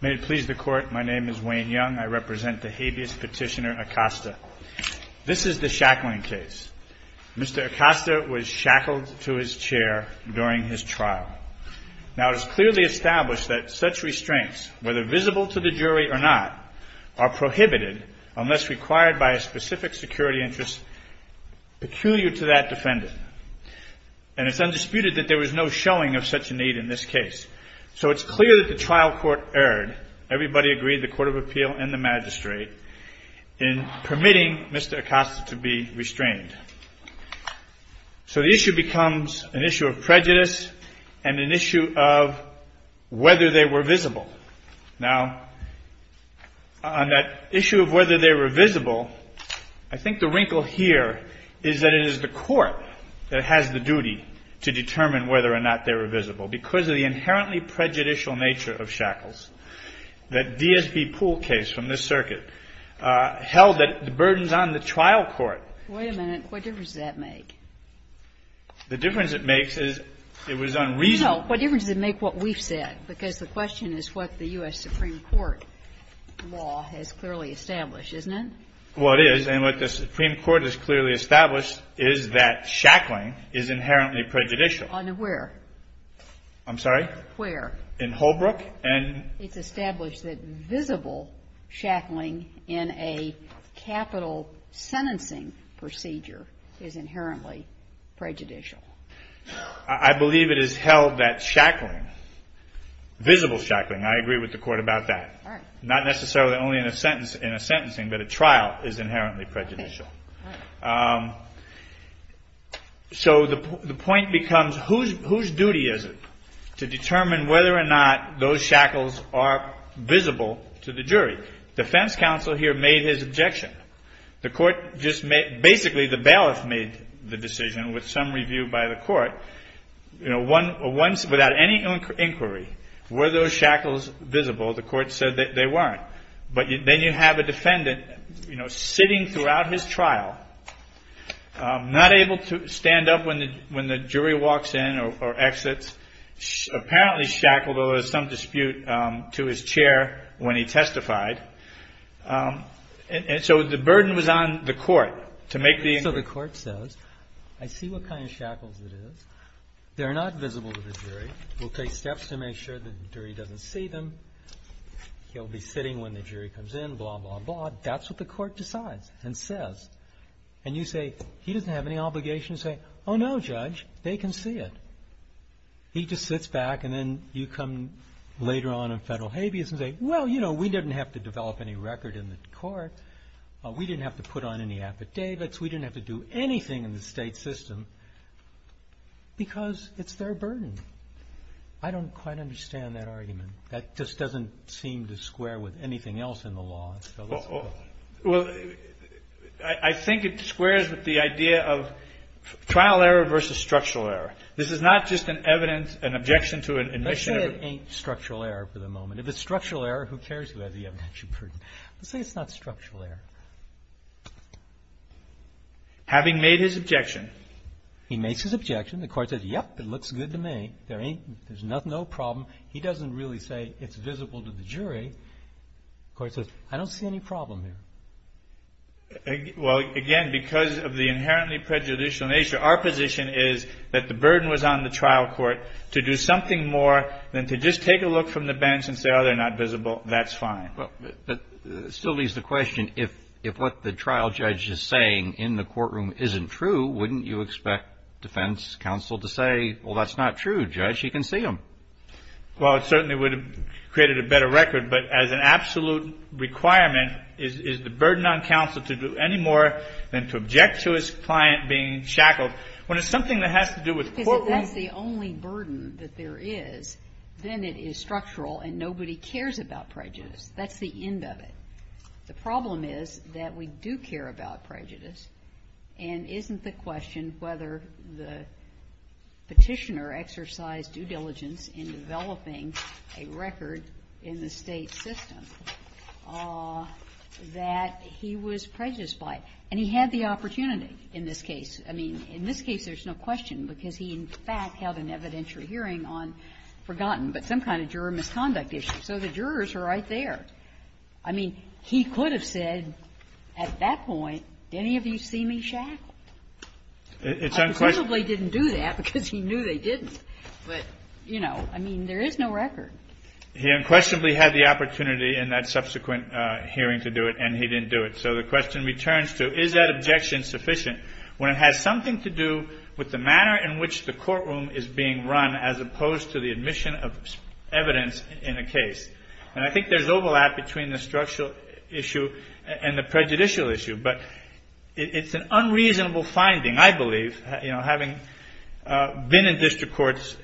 May it please the Court, my name is Wayne Young. I represent the habeas petitioner Acosta. This is the shackling case. Mr. Acosta was shackled to his chair during his trial. Now it is clearly established that such restraints, whether visible to the jury or not, are prohibited unless required by a specific security interest peculiar to that defendant. And it's undisputed that there was no showing of such a need in this case. So it's clear that the trial court erred. Everybody agreed, the Court of Appeal and the magistrate, in permitting Mr. Acosta to be restrained. So the issue becomes an issue of prejudice and an issue of whether they were visible. Now on that issue of whether they were visible, I think the wrinkle here is that it is the court that has the duty to determine whether or not they were visible. Because of the inherently prejudicial nature of shackles, that DSP Poole case from this circuit held that the burden is on the trial court. Wait a minute. What difference does that make? The difference it makes is it was unreasonable. No. What difference does it make what we've said? Because the question is what the U.S. Supreme Court law has clearly established, isn't it? Well, it is. And what the Supreme Court has clearly established is that shackling is inherently prejudicial. Where? I'm sorry? Where? In Holbrook. It's established that visible shackling in a capital sentencing procedure is inherently prejudicial. I believe it is held that shackling, visible shackling, I agree with the Court about that. All right. Not necessarily only in a sentence, in a sentencing, but a trial is inherently prejudicial. All right. So the point becomes whose duty is it to determine whether or not those shackles are visible to the jury? Defense counsel here made his objection. The court just basically the bailiff made the decision with some review by the court. Without any inquiry, were those shackles visible? The court said that they weren't. But then you have a defendant, you know, sitting throughout his trial, not able to stand up when the jury walks in or exits, apparently shackled, although there's some dispute, to his chair when he testified. And so the burden was on the court to make the inquiry. So the court says, I see what kind of shackles it is. They're not visible to the jury. We'll take steps to make sure the jury doesn't see them. He'll be sitting when the jury comes in, blah, blah, blah. That's what the court decides and says. And you say, he doesn't have any obligation to say, oh, no, judge, they can see it. He just sits back and then you come later on in federal habeas and say, well, you know, we didn't have to develop any record in the court. We didn't have to put on any affidavits. We didn't have to do anything in the state system because it's their burden. I don't quite understand that argument. That just doesn't seem to square with anything else in the law. Well, I think it squares with the idea of trial error versus structural error. This is not just an evidence, an objection to an admission. Let's say it ain't structural error for the moment. If it's structural error, who cares who has the evidence? Let's say it's not structural error. Having made his objection. He makes his objection. The court says, yep, it looks good to me. There's no problem. He doesn't really say it's visible to the jury. The court says, I don't see any problem there. Well, again, because of the inherently prejudicial nature, our position is that the burden was on the trial court to do something more than to just take a look from the bench and say, oh, they're not visible. That's fine. But it still leaves the question, if what the trial judge is saying in the courtroom isn't true, wouldn't you expect defense counsel to say, well, that's not true, judge. He can see them. Well, it certainly would have created a better record, but as an absolute requirement, is the burden on counsel to do any more than to object to his client being shackled when it's something that has to do with courtroom? If that's the only burden that there is, then it is structural and nobody cares about prejudice. That's the end of it. The problem is that we do care about prejudice, and isn't the question whether the Petitioner exercised due diligence in developing a record in the State system that he was prejudiced by? And he had the opportunity in this case. I mean, in this case, there's no question, because he, in fact, held an evidentiary hearing on forgotten, but some kind of juror misconduct issues. So the jurors are right there. I mean, he could have said at that point, did any of you see me shackled? I presumably didn't do that, because he knew they didn't. But, you know, I mean, there is no record. He unquestionably had the opportunity in that subsequent hearing to do it, and he didn't do it. So the question returns to, is that objection sufficient when it has something to do with the manner in which the courtroom is being run as opposed to the admission of evidence in a case? And I think there's overlap between the structural issue and the prejudicial issue. But it's an unreasonable finding, I believe, you know, having been in district courts,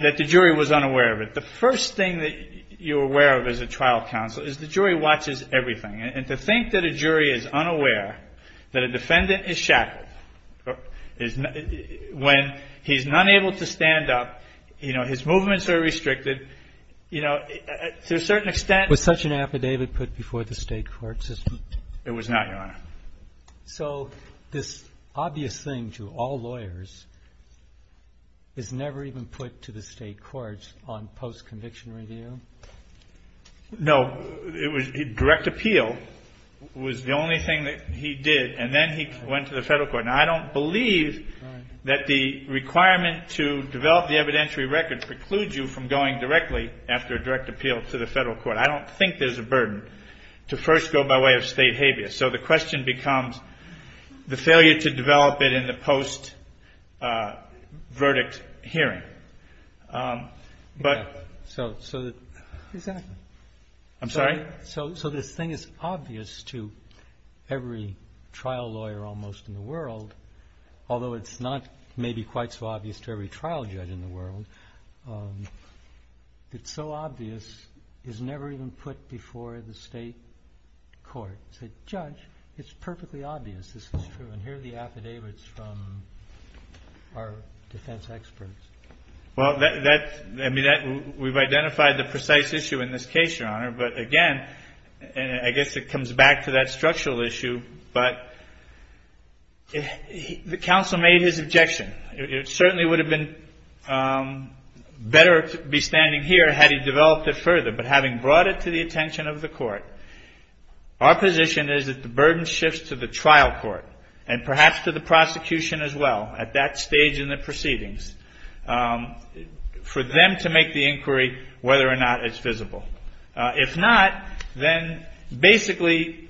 that the jury was unaware of it. The first thing that you're aware of as a trial counsel is the jury watches everything. And to think that a jury is unaware that a defendant is shackled, when he's not able to stand up, you know, his movements are restricted, you know, to a certain extent Was such an affidavit put before the State court system? It was not, Your Honor. So this obvious thing to all lawyers is never even put to the State courts on post-conviction review? No. Direct appeal was the only thing that he did, and then he went to the Federal court. Now, I don't believe that the requirement to develop the evidentiary record precludes you from going directly after a direct appeal to the Federal court. I don't think there's a burden to first go by way of State habeas. So the question becomes the failure to develop it in the post-verdict hearing. So this thing is obvious to every trial lawyer almost in the world, although it's not maybe quite so obvious to every trial judge in the world. It's so obvious it's never even put before the State court. Judge, it's perfectly obvious this is true. And here are the affidavits from our defense experts. Well, I mean, we've identified the precise issue in this case, Your Honor. But again, I guess it comes back to that structural issue. But the counsel made his objection. It certainly would have been better to be standing here had he developed it further. But having brought it to the attention of the court, our position is that the burden shifts to the trial court and perhaps to the prosecution as well at that stage in the proceedings for them to make the inquiry whether or not it's visible. If not, then basically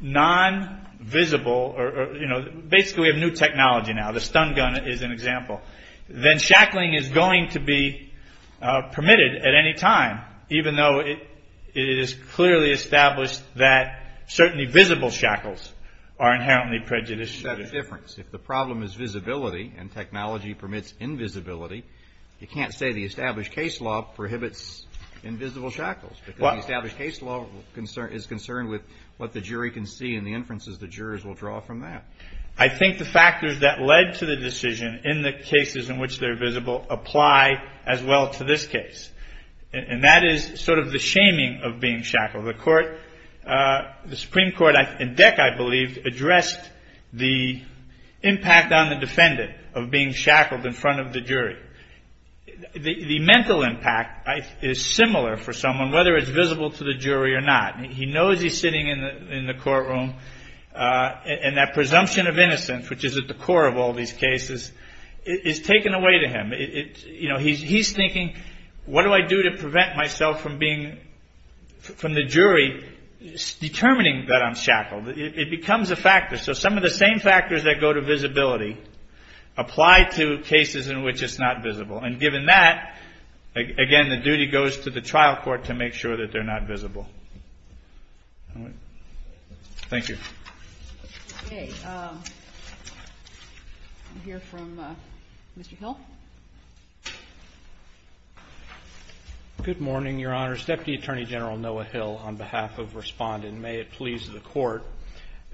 non-visible or, you know, basically we have new technology now. The stun gun is an example. Then shackling is going to be permitted at any time, even though it is clearly established that certainly visible shackles are inherently prejudicial. That's the difference. If the problem is visibility and technology permits invisibility, you can't say the established case law prohibits invisible shackles because the established case law is concerned with what the jury can see and the inferences the jurors will draw from that. I think the factors that led to the decision in the cases in which they're visible apply as well to this case. And that is sort of the shaming of being shackled. The Supreme Court in DEC, I believe, addressed the impact on the defendant of being shackled in front of the jury. The mental impact is similar for someone, whether it's visible to the jury or not. He knows he's sitting in the courtroom, and that presumption of innocence, which is at the core of all these cases, is taken away to him. You know, he's thinking, what do I do to prevent myself from being, from the jury determining that I'm shackled? It becomes a factor. So some of the same factors that go to visibility apply to cases in which it's not visible. And given that, again, the duty goes to the trial court to make sure that they're not visible. Thank you. Okay. We'll hear from Mr. Hill. Good morning, Your Honors. Deputy Attorney General Noah Hill on behalf of Respondent. May it please the Court.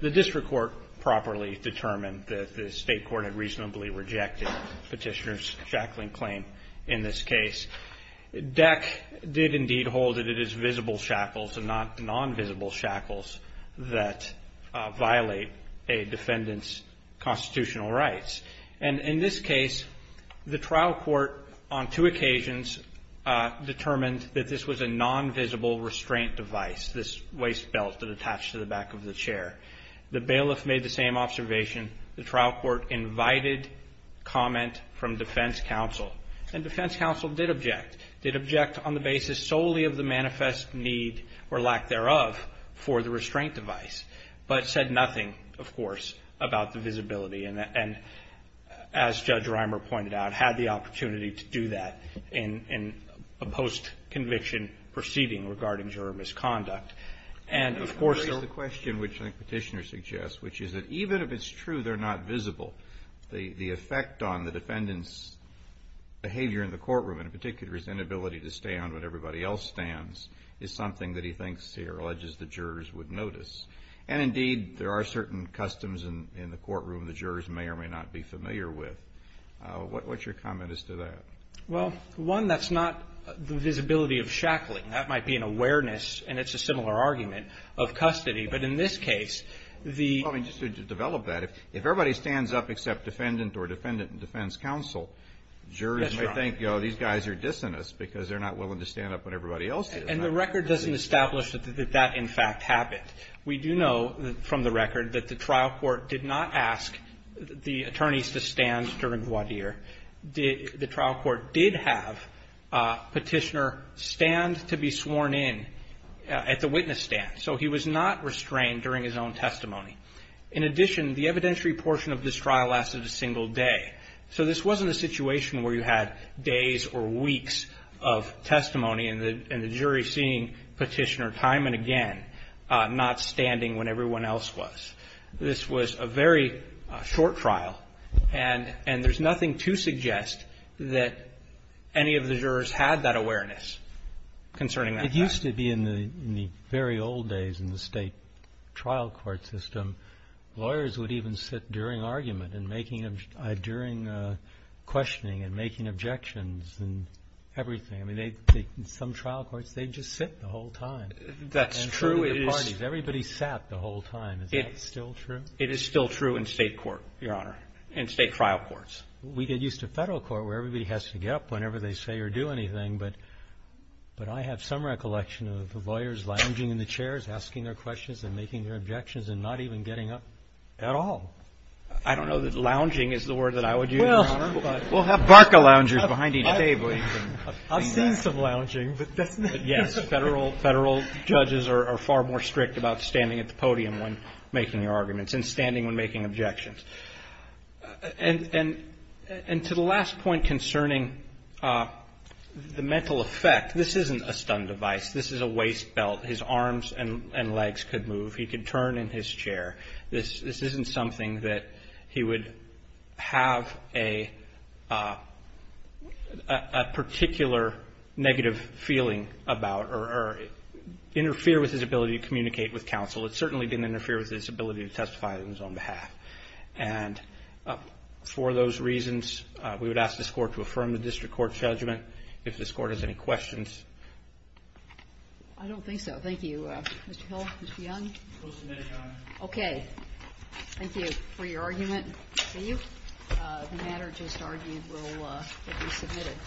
The district court properly determined that the state court had reasonably rejected Petitioner's shackling claim in this case. DEC did indeed hold that it is visible shackles and not non-visible shackles that violate a defendant's constitutional rights. And in this case, the trial court on two occasions determined that this was a non-visible restraint device, this waist belt that attached to the back of the chair. The bailiff made the same observation. The trial court invited comment from defense counsel, and defense counsel did object, did object on the basis solely of the manifest need or lack thereof for the restraint device, but said nothing, of course, about the visibility and, as Judge Reimer pointed out, had the opportunity to do that in a post-conviction proceeding regarding juror misconduct. And, of course, the question which Petitioner suggests, which is that even if it's true they're not visible, the effect on the defendant's behavior in the courtroom, in particular his inability to stand when everybody else stands, is something that he thinks or alleges the jurors would notice. And, indeed, there are certain customs in the courtroom the jurors may or may not be familiar with. What's your comment as to that? Well, one, that's not the visibility of shackling. That might be an awareness, and it's a similar argument, of custody. But in this case, the ---- I mean, just to develop that, if everybody stands up except defendant or defendant in defense counsel, jurors may think, oh, these guys are dissonant because they're not willing to stand up when everybody else is. And the record doesn't establish that that, in fact, happened. We do know from the record that the trial court did not ask the attorneys to stand during voir dire. The trial court did have Petitioner stand to be sworn in at the witness stand. So he was not restrained during his own testimony. In addition, the evidentiary portion of this trial lasted a single day. So this wasn't a situation where you had days or weeks of testimony and the jury seeing Petitioner time and again not standing when everyone else was. This was a very short trial, and there's nothing to suggest that any of the jurors had that awareness concerning that fact. It used to be in the very old days in the state trial court system, lawyers would even sit during argument and during questioning and making objections and everything. I mean, some trial courts, they'd just sit the whole time. That's true. Everybody sat the whole time. Is that still true? It is still true in state court, Your Honor, in state trial courts. We get used to federal court where everybody has to get up whenever they say or do anything, but I have some recollection of the lawyers lounging in the chairs, asking their questions and making their objections and not even getting up at all. I don't know that lounging is the word that I would use, Your Honor. Well, we'll have Barker loungers behind each table. I've seen some lounging, but that's not. Yes, federal judges are far more strict about standing at the podium when making your arguments and standing when making objections. And to the last point concerning the mental effect, this isn't a stun device. This is a waist belt. His arms and legs could move. He could turn in his chair. This isn't something that he would have a particular negative feeling about or interfere with his ability to communicate with counsel. It certainly didn't interfere with his ability to testify on his own behalf. And for those reasons, we would ask this Court to affirm the district court judgment if this Court has any questions. I don't think so. Thank you. Mr. Hill? Mr. Young? We'll submit it, Your Honor. Okay. Thank you for your argument. The matter just argued will be submitted.